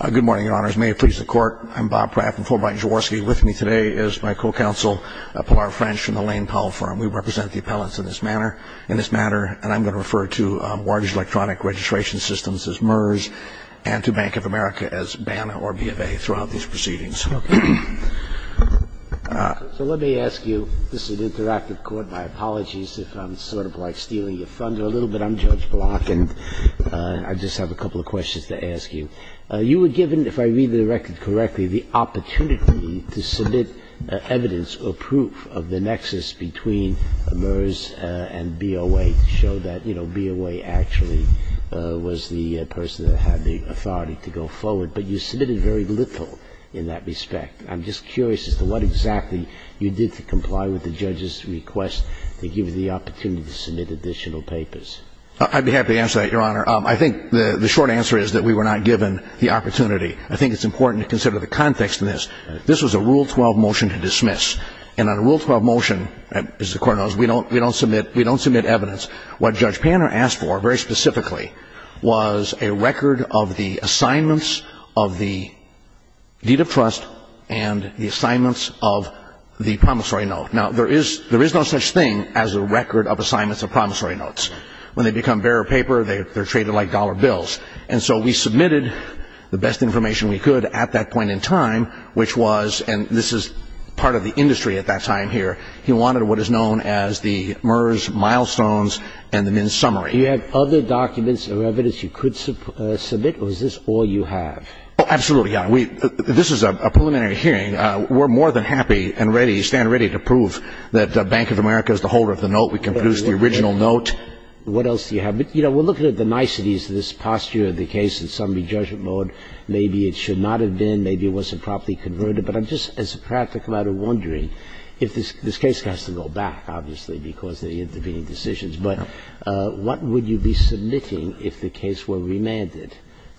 Good morning, Your Honors. May it please the Court, I'm Bob Pratt from Fulbright and Jaworski. With me today is my co-counsel, Pilar French, from the Lane Powell Firm. We represent the appellants in this manner, and I'm going to refer to Wardage Electronic Registration Systems as MERS, and to Bank of America as BANA or BFA throughout these proceedings. So let me ask you, this is an interactive court, my apologies if I'm sort of like stealing your thunder a little bit. I'm Judge Block, and I just have a couple of questions to ask you. You were given, if I read the record correctly, the opportunity to submit evidence or proof of the nexus between MERS and BOA to show that, you know, BOA actually was the person that had the authority to go forward, but you submitted very little in that respect. I'm just curious as to what exactly you did to comply with the judge's request to give you the opportunity to submit additional papers. I'd be happy to answer that, Your Honor. I think the short answer is that we were not given the opportunity. I think it's important to consider the context in this. This was a Rule 12 motion to dismiss, and on a Rule 12 motion, as the Court knows, we don't submit evidence. What Judge Panner asked for, very specifically, was a record of the assignments of the deed of trust and the assignments of the promissory note. Now, there is no such thing as a record of assignments of promissory notes. When they become bare of paper, they're treated like dollar bills. And so we submitted the best information we could at that point in time, which was, and this is part of the industry at that time here, he wanted what is known as the MERS milestones and the MINS summary. Do you have other documents or evidence you could submit, or is this all you have? Absolutely, Your Honor. This is a preliminary hearing. We're more than happy and ready, stand ready to prove that Bank of America is the holder of the note. We can produce the original note. What else do you have? You know, we're looking at the niceties of this posture of the case in summary judgment mode. Maybe it should not have been. Maybe it wasn't properly converted. But I'm just, as a practical matter, wondering if this case has to go back, obviously, because of the intervening decisions. But what would you be submitting if the case were remanded?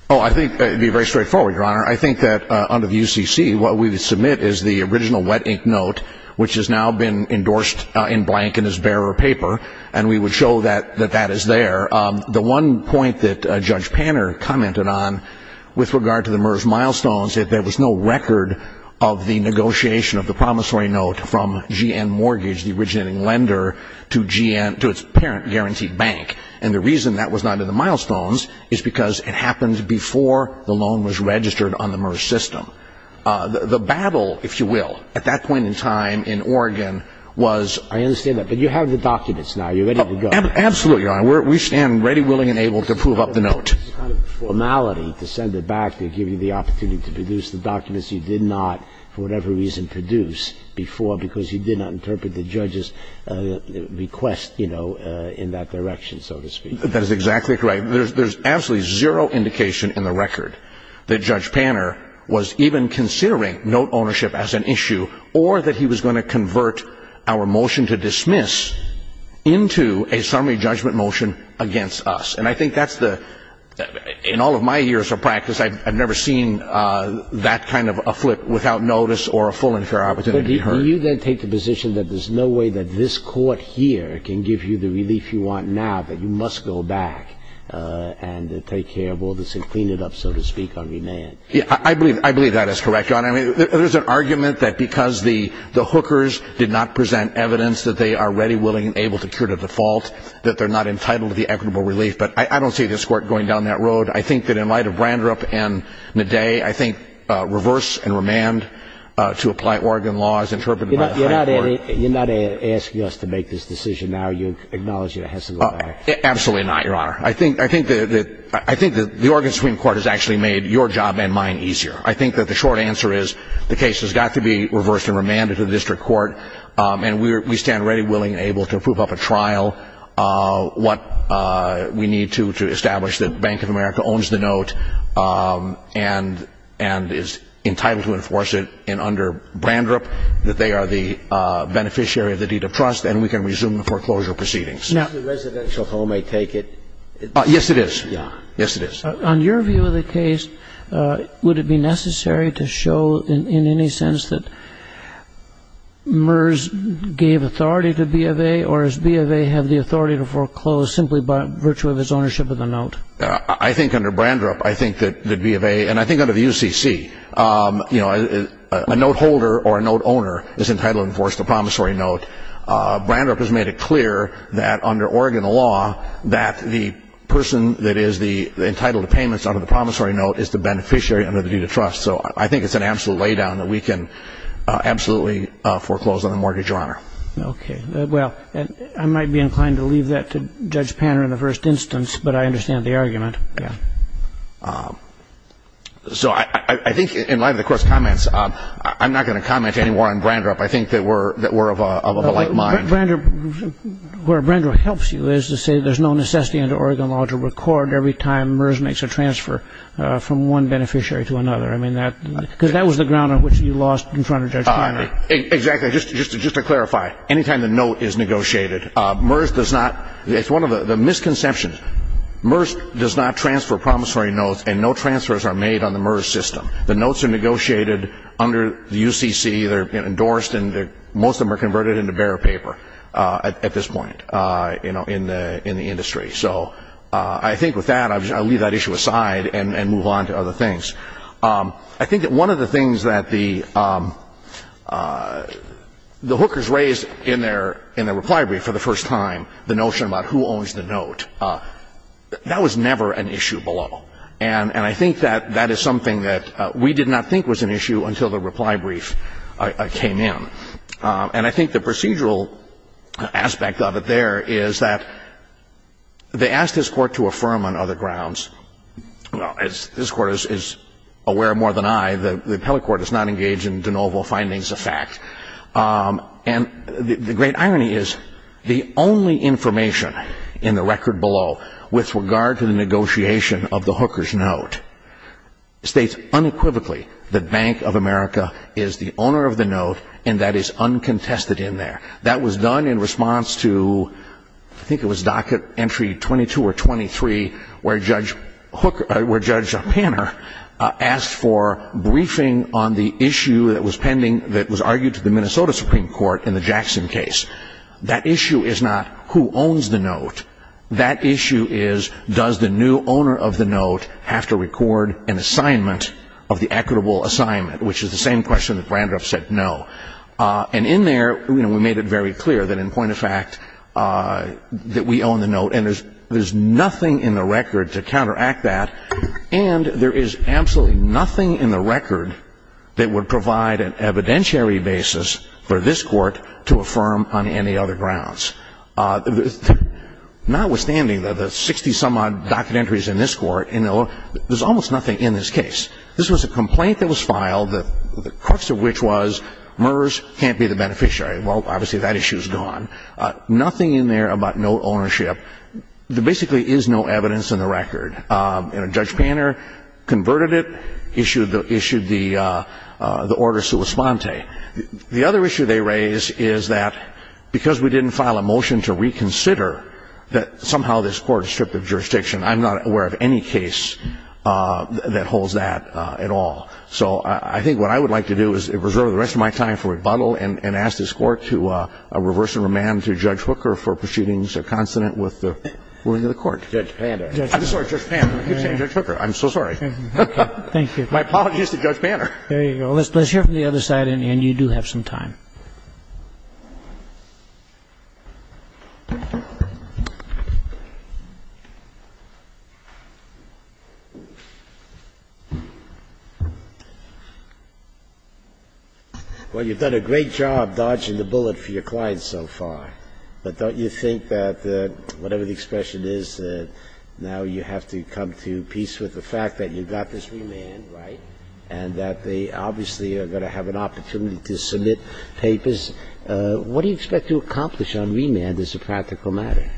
Oh, I think it would be very straightforward, Your Honor. I think that under the UCC, what we would submit is the original wet ink note, which has now been endorsed in blank in this bare of paper. And we would show that that is there. The one point that Judge Panner commented on with regard to the MERS milestones, that there was no record of the negotiation of the promissory note from GN Mortgage, the originating lender, to GN, to its parent guaranteed bank. And the reason that was not in the milestones is because it happened before the loan was registered on the MERS system. The battle, if you will, at that point in time in Oregon was... I understand that. But you have the documents now. You're ready to go. Absolutely, Your Honor. We stand ready, willing, and able to prove up the note. It's a kind of formality to send it back to give you the opportunity to produce the documents you did not, for whatever reason, produce before, because you did not interpret the judge's request, you know, in that direction, so to speak. That is exactly correct. There's absolutely zero indication in the record that Judge Panner was even considering note ownership as an issue, or that he was going to convert our motion to dismiss into a summary judgment motion against us. And I think that's the... In all of my years of practice, I've never seen that kind of a flip without notice or a full and fair opportunity. Do you then take the position that there's no way that this court here can give you the relief you want now, that you must go back and take care of all this and clean it up, so to speak, on remand? Yeah, I believe that is correct, Your Honor. I mean, there's an argument that because the hookers did not present evidence that they are ready, willing, and able to cure to default, that they're not entitled to the equitable relief. I think that in light of Brandrup and Nadei, I think reverse and remand to apply Oregon laws interpreted by the Supreme Court... You're not asking us to make this decision now. You acknowledge that it has to go back? Absolutely not, Your Honor. I think that the Oregon Supreme Court has actually made your job and mine easier. I think that the short answer is the case has got to be reversed and remanded to the district court, and we stand ready, willing, and able to approve up a trial, what we need to to establish that Bank of America owns the note and is entitled to enforce it, and under Brandrup, that they are the beneficiary of the deed of trust, and we can resume the foreclosure proceedings. Now, the residential home may take it. Yes, it is. Yes, it is. On your view of the case, would it be necessary to show in any sense that MERS gave authority to B of A, or does B of A have the authority to foreclose simply by virtue of its ownership of the note? I think under Brandrup, I think that B of A, and I think under the UCC, a note holder or a note owner is entitled to enforce the promissory note. Brandrup has made it clear that under Oregon law that the person that is entitled to payments under the promissory note is the beneficiary under the deed of trust, so I think it's an absolute lay-down that we can absolutely foreclose on the mortgage or honor. Okay. Well, I might be inclined to leave that to Judge Panner in the first instance, but I understand the argument. So I think in light of the Court's comments, I'm not going to comment any more on Brandrup. I think that we're of a like mind. Where Brandrup helps you is to say there's no necessity under Oregon law to record every time MERS makes a transfer from one beneficiary to another. Because that was the ground on which you lost in front of Judge Panner. Exactly. Just to clarify, any time the note is negotiated, MERS does not, it's one of the misconceptions, MERS does not transfer promissory notes and no transfers are made on the MERS system. The notes are negotiated under the UCC, they're endorsed, and most of them are converted into bare paper at this point in the industry. So I think with that, I'll leave that issue aside and move on to other things. I think that one of the things that the hookers raised in their reply brief for the first time, the notion about who owns the note, that was never an issue below. And I think that that is something that we did not think was an issue until the reply brief came in. And I think the procedural aspect of it there is that they asked this Court to affirm on other grounds. As this Court is aware more than I, the appellate court is not engaged in de novo findings of fact. And the great irony is the only information in the record below with regard to the negotiation of the hooker's note states unequivocally that Bank of America is the owner of the note and that is uncontested in there. That was done in response to, I think it was docket entry 22 or 23, where Judge Panner asked for briefing on the issue that was pending, that was argued to the Minnesota Supreme Court in the Jackson case. That issue is not who owns the note. That issue is does the new owner of the note have to record an assignment of the equitable assignment, which is the same question that Brandreth said no. And in there, we made it very clear that in point of fact that we own the note. And there's nothing in the record to counteract that. And there is absolutely nothing in the record that would provide an evidentiary basis for this Court to affirm on any other grounds. Notwithstanding the 60-some-odd docket entries in this Court, there's almost nothing in this case. This was a complaint that was filed, the crux of which was Murrs can't be the beneficiary. Well, obviously that issue is gone. Nothing in there about note ownership. There basically is no evidence in the record. And Judge Panner converted it, issued the order sua sponte. The other issue they raise is that because we didn't file a motion to reconsider that somehow this Court is stripped of jurisdiction, I'm not aware of any case that holds that at all. So I think what I would like to do is reserve the rest of my time for rebuttal and ask this Court to reverse and remand to Judge Hooker for proceedings consonant with the ruling of the Court. Judge Panner. I'm sorry, Judge Panner. I keep saying Judge Hooker. I'm so sorry. Thank you. My apologies to Judge Panner. There you go. Let's hear from the other side, and you do have some time. Well, you've done a great job dodging the bullet for your clients so far, but don't you think that whatever the expression is, that now you have to come to peace with the fact that you've got this remand, right, and that they obviously are going to have an opportunity to submit to the Supreme Court, what do you expect to accomplish on remand as a practical matter?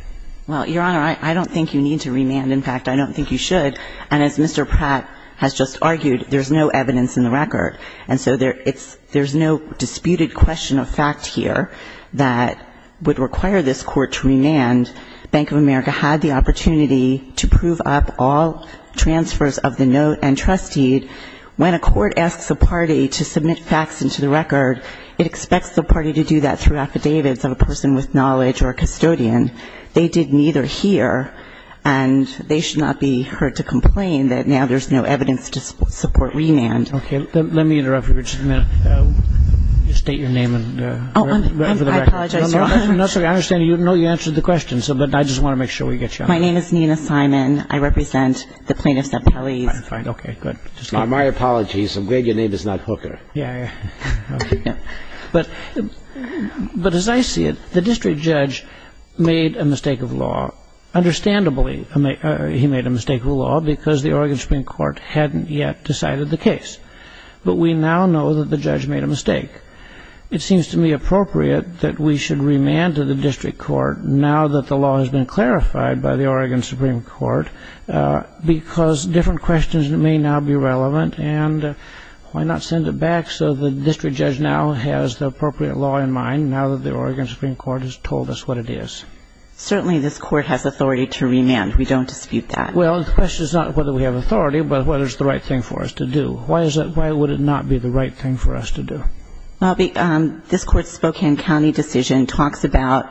Well, Your Honor, I don't think you need to remand. In fact, I don't think you should. And as Mr. Pratt has just argued, there's no evidence in the record. And so there's no disputed question of fact here that would require this Court to remand. Bank of America had the opportunity to prove up all transfers of the note and trustee. When a court asks a party to submit facts into the record, it expects the party to do that through affidavits of a person with knowledge or a custodian. They did neither here, and they should not be hurt to complain that now there's no evidence to support remand. Okay. Let me interrupt you for just a minute. State your name and where you're from. I apologize, Your Honor. No, that's okay. I understand. I know you answered the question, but I just want to make sure we get you on. My name is Nina Simon. I represent the plaintiffs at Pelley's. Okay, good. My apologies. I'm glad your name is not Hooker. But as I see it, the district judge made a mistake of law. Understandably, he made a mistake of law because the Oregon Supreme Court hadn't yet decided the case. But we now know that the judge made a mistake. It seems to me appropriate that we should remand to the district court now that the law has been clarified by the Oregon Supreme Court because different questions may now be relevant. And why not send it back so the district judge now has the appropriate law in mind now that the Oregon Supreme Court has told us what it is? Certainly this court has authority to remand. We don't dispute that. Well, the question is not whether we have authority, but whether it's the right thing for us to do. Why would it not be the right thing for us to do? Well, this court's Spokane County decision talks about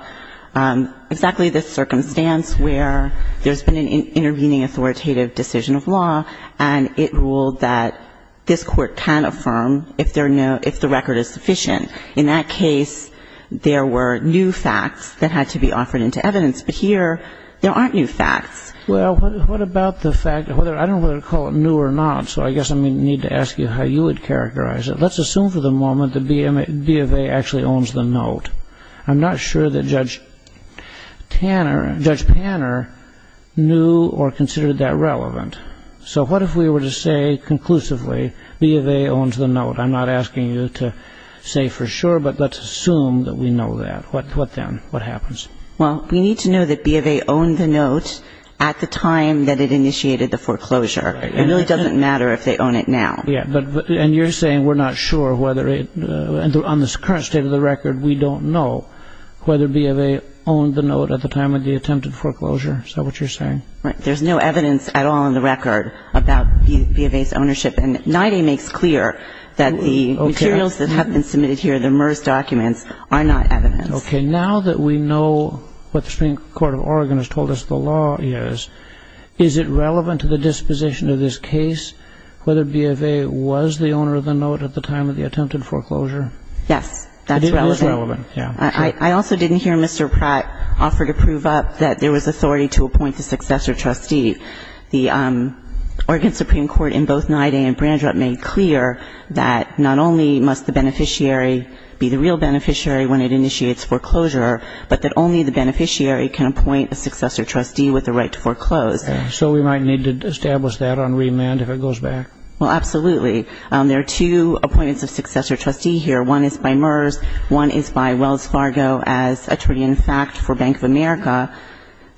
exactly the circumstance where there's been an intervening authoritative decision of law, and it ruled that this court can affirm if the record is sufficient. In that case, there were new facts that had to be offered into evidence. But here there aren't new facts. Well, what about the fact of whether or not I don't know whether to call it new or not, so I guess I'm going to need to ask you how you would characterize it. Well, let's assume for the moment that B of A actually owns the note. I'm not sure that Judge Tanner, Judge Panner, knew or considered that relevant. So what if we were to say conclusively B of A owns the note? I'm not asking you to say for sure, but let's assume that we know that. What then? What happens? Well, we need to know that B of A owned the note at the time that it initiated the foreclosure. It really doesn't matter if they own it now. And you're saying we're not sure whether it, on the current state of the record, we don't know whether B of A owned the note at the time of the attempted foreclosure. Is that what you're saying? There's no evidence at all in the record about B of A's ownership, and NIDA makes clear that the materials that have been submitted here, the MERS documents, are not evidence. Okay, now that we know what the Supreme Court of Oregon has told us the law is, is it relevant to the disposition of this case whether B of A was the owner of the note at the time of the attempted foreclosure? Yes, that's relevant. It is relevant, yeah. I also didn't hear Mr. Pratt offer to prove up that there was authority to appoint the successor trustee. The Oregon Supreme Court, in both NIDA and Brandrup, made clear that not only must the beneficiary be the real beneficiary when it initiates foreclosure, but that only the beneficiary can appoint a successor trustee with the right to foreclose. So we might need to establish that on remand if it goes back? Well, absolutely. There are two appointments of successor trustee here. One is by MERS. One is by Wells Fargo as attorney-in-fact for Bank of America.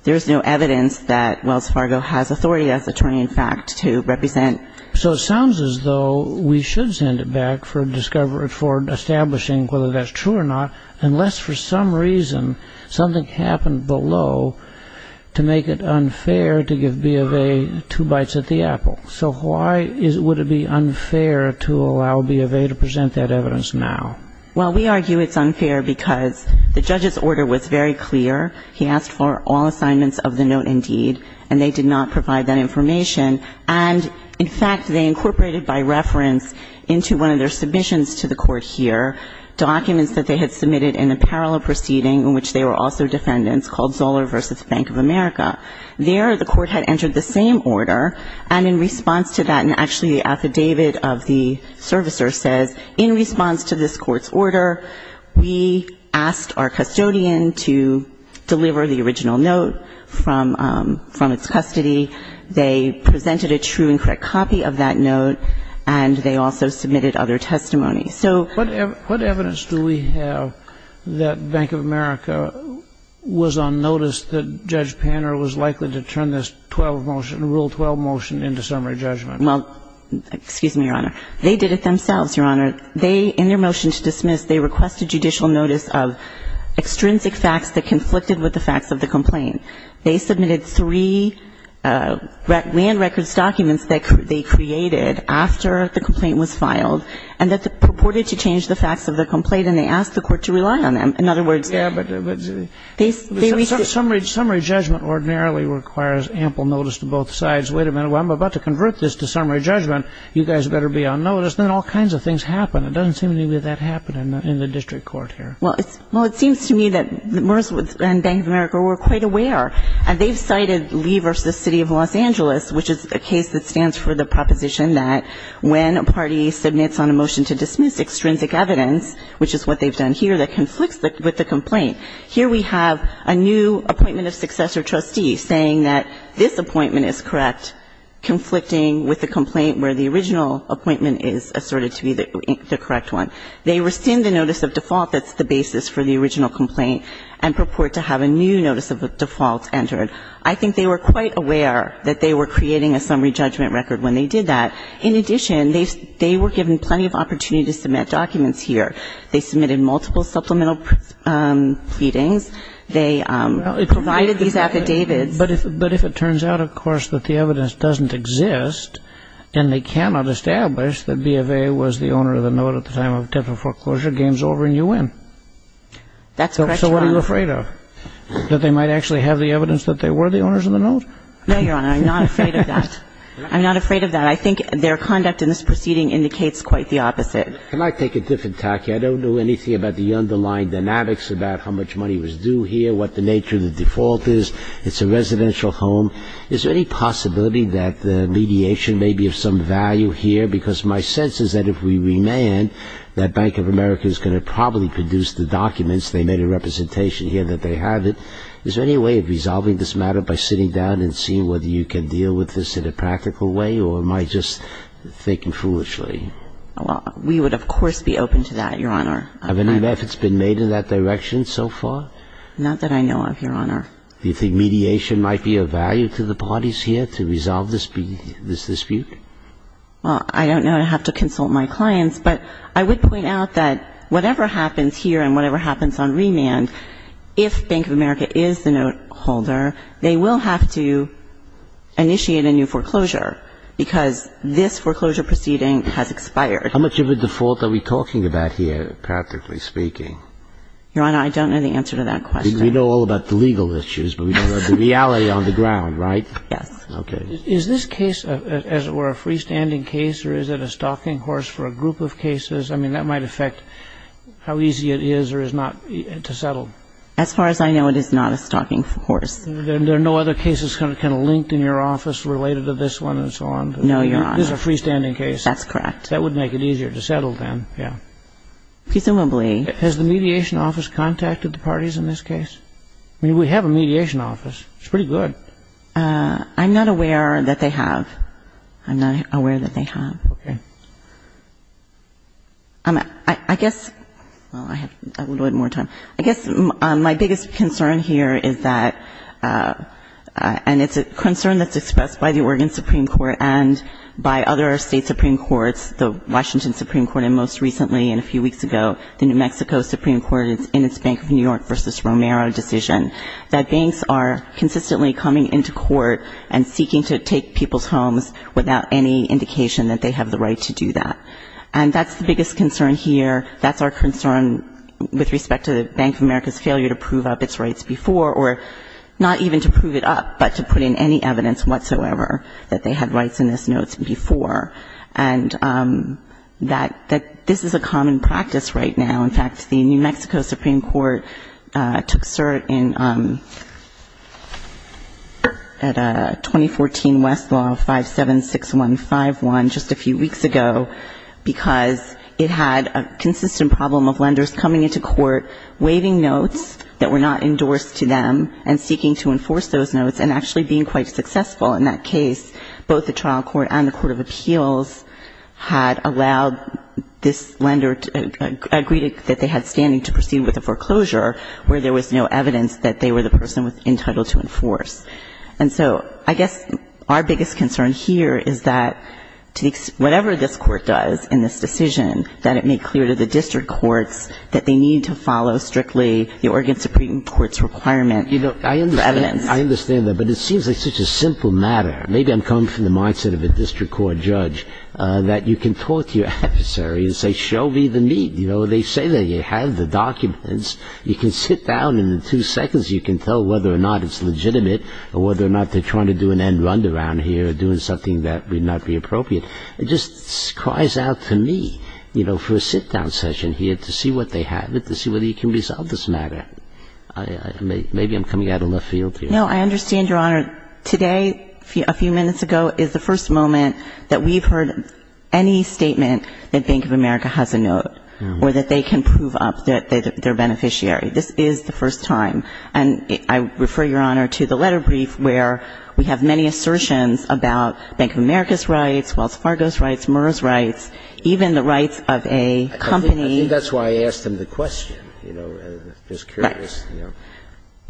There is no evidence that Wells Fargo has authority as attorney-in-fact to represent. So it sounds as though we should send it back for establishing whether that's true or not, unless for some reason something happened below to make it unfair to give B of A two bites at the apple. So why would it be unfair to allow B of A to present that evidence now? Well, we argue it's unfair because the judge's order was very clear. He asked for all assignments of the note indeed, and they did not provide that information. And, in fact, they incorporated by reference into one of their submissions to the court here documents that they had submitted in a parallel proceeding in which they were also defendants called Zoller v. Bank of America. There the court had entered the same order, and in response to that, and actually the affidavit of the servicer says, in response to this court's order, we asked our custodian to deliver the original note from its custody. They presented a true and correct copy of that note, and they also submitted other testimony. So what evidence do we have that Bank of America was on notice that Judge Panner was likely to turn this 12 motion, Rule 12 motion, into summary judgment? Well, excuse me, Your Honor. They did it themselves, Your Honor. They, in their motion to dismiss, they requested judicial notice of extrinsic facts that conflicted with the facts of the complaint. They submitted three land records documents that they created after the complaint was filed, and that purported to change the facts of the complaint, and they asked the court to rely on them. In other words, they ---- Yeah, but summary judgment ordinarily requires ample notice to both sides. Wait a minute. Well, I'm about to convert this to summary judgment. You guys better be on notice. Then all kinds of things happen. It doesn't seem to me that that happened in the district court here. Well, it seems to me that Merz and Bank of America were quite aware, and they've cited Lee v. City of Los Angeles, which is a case that stands for the proposition that when a party submits on a motion to dismiss extrinsic evidence, which is what they've done here, that conflicts with the complaint. Here we have a new appointment of successor trustee saying that this appointment is correct, conflicting with the complaint where the original appointment is asserted to be the correct one. They rescind the notice of default that's the basis for the original complaint and purport to have a new notice of default entered. I think they were quite aware that they were creating a summary judgment record when they did that. In addition, they were given plenty of opportunity to submit documents here. They submitted multiple supplemental pleadings. They provided these affidavits. But if it turns out, of course, that the evidence doesn't exist, and they cannot establish that B of A was the owner of the note at the time of death or foreclosure, That's correct, Your Honor. So what are you afraid of? That they might actually have the evidence that they were the owners of the note? No, Your Honor. I'm not afraid of that. I'm not afraid of that. I think their conduct in this proceeding indicates quite the opposite. Can I take a different tack here? I don't know anything about the underlying dynamics about how much money was due here, what the nature of the default is. It's a residential home. Is there any possibility that the mediation may be of some value here? Because my sense is that if we remand, that Bank of America is going to probably produce the documents. They made a representation here that they have it. Is there any way of resolving this matter by sitting down and seeing whether you can deal with this in a practical way, or am I just thinking foolishly? Well, we would, of course, be open to that, Your Honor. Have any methods been made in that direction so far? Not that I know of, Your Honor. Do you think mediation might be of value to the parties here to resolve this dispute? Well, I don't know. I'd have to consult my clients. But I would point out that whatever happens here and whatever happens on remand, if Bank of America is the note holder, they will have to initiate a new foreclosure because this foreclosure proceeding has expired. How much of a default are we talking about here, practically speaking? Your Honor, I don't know the answer to that question. We know all about the legal issues, but we don't know the reality on the ground, right? Okay. Is this case, as it were, a freestanding case, or is it a stalking horse for a group of cases? I mean, that might affect how easy it is or is not to settle. As far as I know, it is not a stalking horse. Then there are no other cases kind of linked in your office related to this one and so on? No, Your Honor. This is a freestanding case. That's correct. That would make it easier to settle then, yeah. Presumably. Has the mediation office contacted the parties in this case? I mean, we have a mediation office. It's pretty good. I'm not aware that they have. I'm not aware that they have. Okay. I guess, well, I have a little bit more time. I guess my biggest concern here is that, and it's a concern that's expressed by the Oregon Supreme Court and by other state Supreme Courts, the Washington Supreme Court, and most recently, and a few weeks ago, the New Mexico Supreme Court in its Bank of New York v. Romero decision, that banks are consistently coming into court and seeking to take people's homes without any indication that they have the right to do that. And that's the biggest concern here. That's our concern with respect to the Bank of America's failure to prove up its rights before, or not even to prove it up, but to put in any evidence whatsoever that they had rights in those notes before. And that this is a common practice right now. In fact, the New Mexico Supreme Court took cert in 2014 Westlaw 576151 just a few weeks ago because it had a consistent problem of lenders coming into court, waiving notes that were not endorsed to them and seeking to enforce those notes and actually being quite successful in that case. Both the trial court and the court of appeals had allowed this lender, agreed that they had standing to proceed with a foreclosure where there was no evidence that they were the person entitled to enforce. And so I guess our biggest concern here is that whatever this court does in this decision, that it make clear to the district courts that they need to follow strictly the Oregon Supreme Court's requirement for evidence. I understand that, but it seems like such a simple matter. Maybe I'm coming from the mindset of a district court judge, that you can talk to your adversary and say, show me the need. You know, they say that you have the documents. You can sit down and in two seconds you can tell whether or not it's legitimate or whether or not they're trying to do an end-run around here or doing something that would not be appropriate. It just cries out to me, you know, for a sit-down session here to see what they have, to see whether you can resolve this matter. Maybe I'm coming out of left field here. No, I understand, Your Honor. Today, a few minutes ago, is the first moment that we've heard any statement that Bank of America has a note or that they can prove up their beneficiary. This is the first time. And I refer, Your Honor, to the letter brief where we have many assertions about Bank of America's rights, Wells Fargo's rights, Murrah's rights, even the rights of a company. I think that's why I asked them the question, you know, just curious. Right.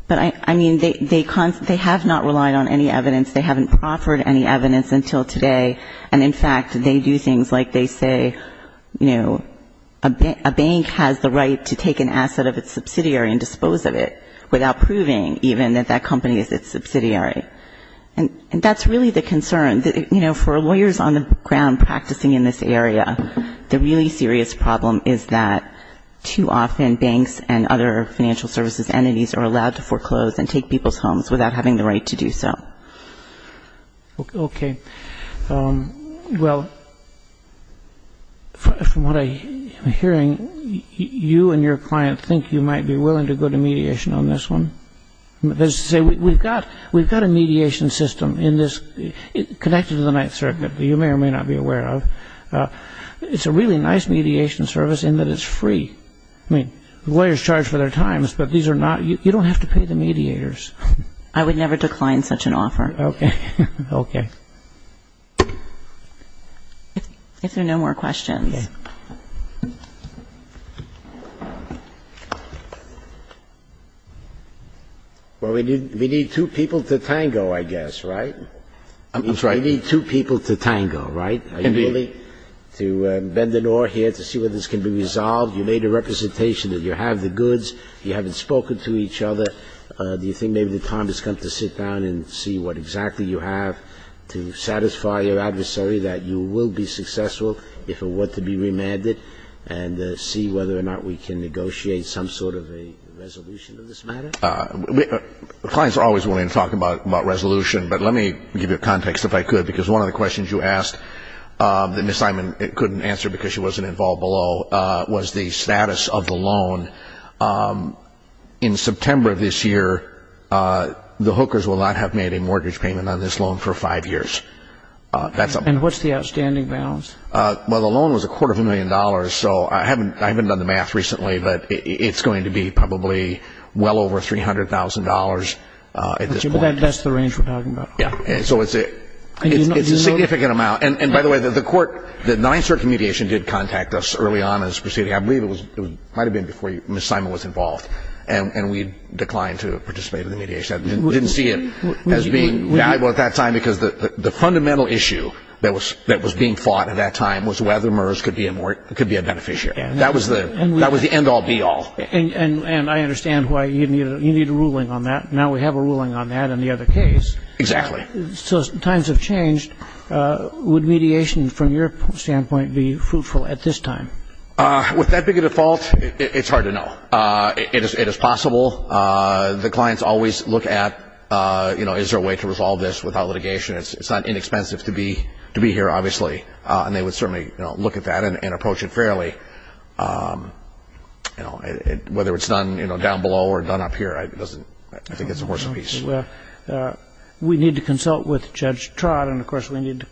But I mean, they have not relied on any evidence. They haven't proffered any evidence until today. And in fact, they do things like they say, you know, a bank has the right to take an asset of its subsidiary and dispose of it without proving even that that company is its subsidiary. And that's really the concern. For lawyers on the ground practicing in this area, the really serious problem is that too often banks and other financial services entities are allowed to foreclose and take people's homes without having the right to do so. Okay. Well, from what I'm hearing, you and your client think you might be willing to go to mediation on this one? We've got a mediation system connected to the Ninth Circuit that you may or may not be aware of. It's a really nice mediation service in that it's free. I mean, lawyers charge for their times, but you don't have to pay the mediators. I would never decline such an offer. Okay. Okay. If there are no more questions. Well, we need two people to tango, I guess, right? That's right. We need two people to tango, right? Are you willing to bend an oar here to see whether this can be resolved? You made a representation that you have the goods. You haven't spoken to each other. Do you think maybe the time has come to sit down and see what exactly you have to satisfy your adversary that you will be successful if it were to be remanded and see whether or not we can negotiate some sort of a resolution of this matter? Clients are always willing to talk about resolution, but let me give you a context if I could, because one of the questions you asked that Ms. Simon couldn't answer because she wasn't involved below was the status of the loan. In September of this year, the hookers will not have made a mortgage payment on this loan for five years. And what's the outstanding balance? Well, the loan was a quarter of a million dollars, so I haven't done the math recently, but it's going to be probably well over $300,000 at this point. But that's the range we're talking about. So it's a significant amount. And, by the way, the court, the Ninth Circuit mediation did contact us early on in this proceeding. I believe it might have been before Ms. Simon was involved, and we declined to participate in the mediation. We didn't see it as being valuable at that time because the fundamental issue that was being fought at that time was whether MERS could be a beneficiary. That was the end-all, be-all. And I understand why you need a ruling on that. Now we have a ruling on that and the other case. Exactly. So times have changed. Would mediation from your standpoint be fruitful at this time? With that big a default, it's hard to know. It is possible. The clients always look at, you know, is there a way to resolve this without litigation? It's not inexpensive to be here, obviously. And they would certainly, you know, look at that and approach it fairly. You know, whether it's done, you know, down below or done up here, I think it's a horse apiece. Well, we need to consult with Judge Trott. And, of course, we need to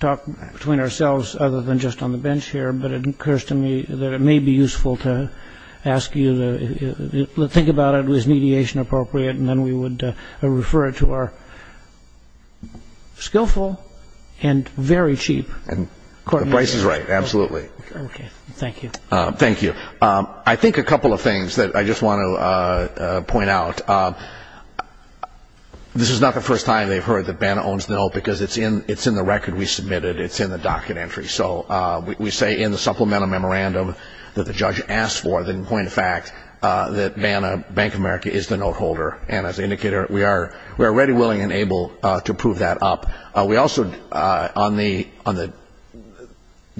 talk between ourselves other than just on the bench here. But it occurs to me that it may be useful to ask you to think about it. And then we would refer it to our skillful and very cheap court mediators. The price is right, absolutely. Okay. Thank you. Thank you. I think a couple of things that I just want to point out. This is not the first time they've heard that BANA owns NIL because it's in the record we submitted. It's in the docket entry. So we say in the supplemental memorandum that the judge asked for, but in point of fact that BANA, Bank of America, is the note holder. And as an indicator, we are ready, willing, and able to prove that up. We also, on the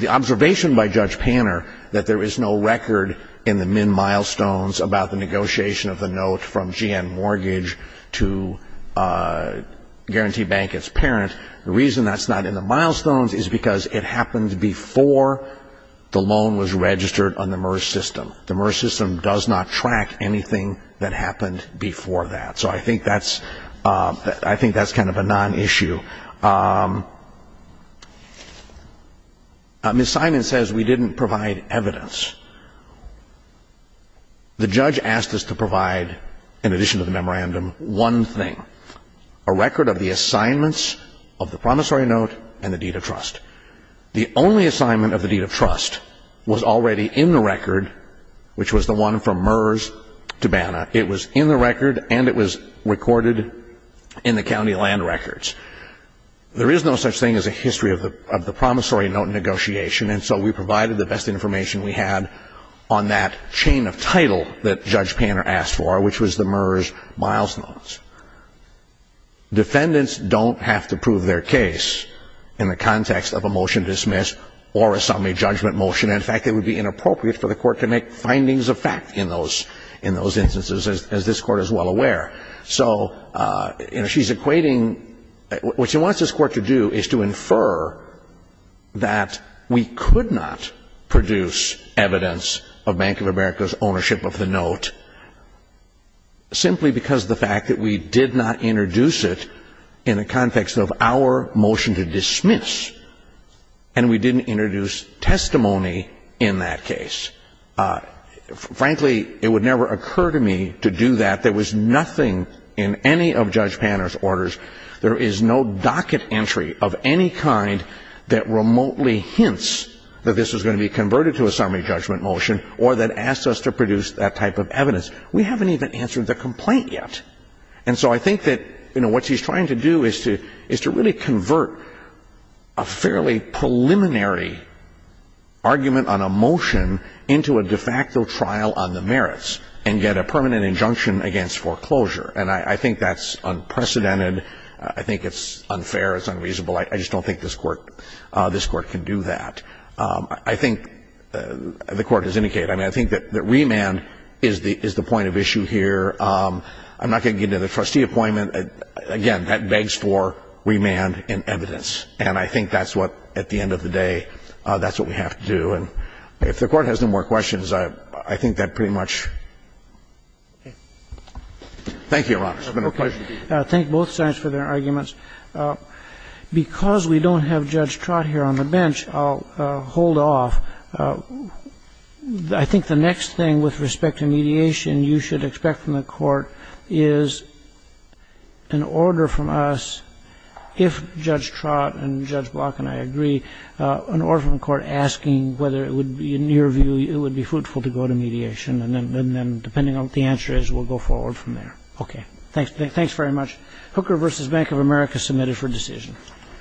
observation by Judge Panner that there is no record in the MIN milestones about the negotiation of the note from GN Mortgage to Guarantee Bank as parent, the reason that's not in the milestones is because it happened before the loan was registered on the MERS system. The MERS system does not track anything that happened before that. So I think that's kind of a non-issue. Ms. Simon says we didn't provide evidence. The judge asked us to provide, in addition to the memorandum, one thing, a record of the assignments of the promissory note and the deed of trust. The only assignment of the deed of trust was already in the record, which was the one from MERS to BANA. It was in the record, and it was recorded in the county land records. There is no such thing as a history of the promissory note negotiation, and so we provided the best information we had on that chain of title that Judge Panner asked for, which was the MERS milestones. Defendants don't have to prove their case in the context of a motion dismissed or assembly judgment motion. In fact, it would be inappropriate for the court to make findings of fact in those instances, as this court is well aware. So she's equating what she wants this court to do is to infer that we could not produce evidence of Bank of America's simply because of the fact that we did not introduce it in the context of our motion to dismiss, and we didn't introduce testimony in that case. Frankly, it would never occur to me to do that. There was nothing in any of Judge Panner's orders. There is no docket entry of any kind that remotely hints that this was going to be converted to a summary judgment motion or that asks us to produce that type of evidence. We haven't even answered the complaint yet. And so I think that, you know, what she's trying to do is to really convert a fairly preliminary argument on a motion into a de facto trial on the merits and get a permanent injunction against foreclosure. And I think that's unprecedented. I think it's unfair. It's unreasonable. I just don't think this court can do that. I think the Court has indicated. I mean, I think that remand is the point of issue here. I'm not going to get into the trustee appointment. Again, that begs for remand and evidence. And I think that's what, at the end of the day, that's what we have to do. And if the Court has no more questions, I think that pretty much. Thank you, Your Honor. Roberts. Thank both sides for their arguments. Because we don't have Judge Trott here on the bench, I'll hold off. I think the next thing with respect to mediation you should expect from the Court is an order from us, if Judge Trott and Judge Block and I agree, an order from the Court asking whether it would be in your view it would be fruitful to go to mediation. And then depending on what the answer is, we'll go forward from there. Okay. Thanks very much. Hooker v. Bank of America submitted for decision.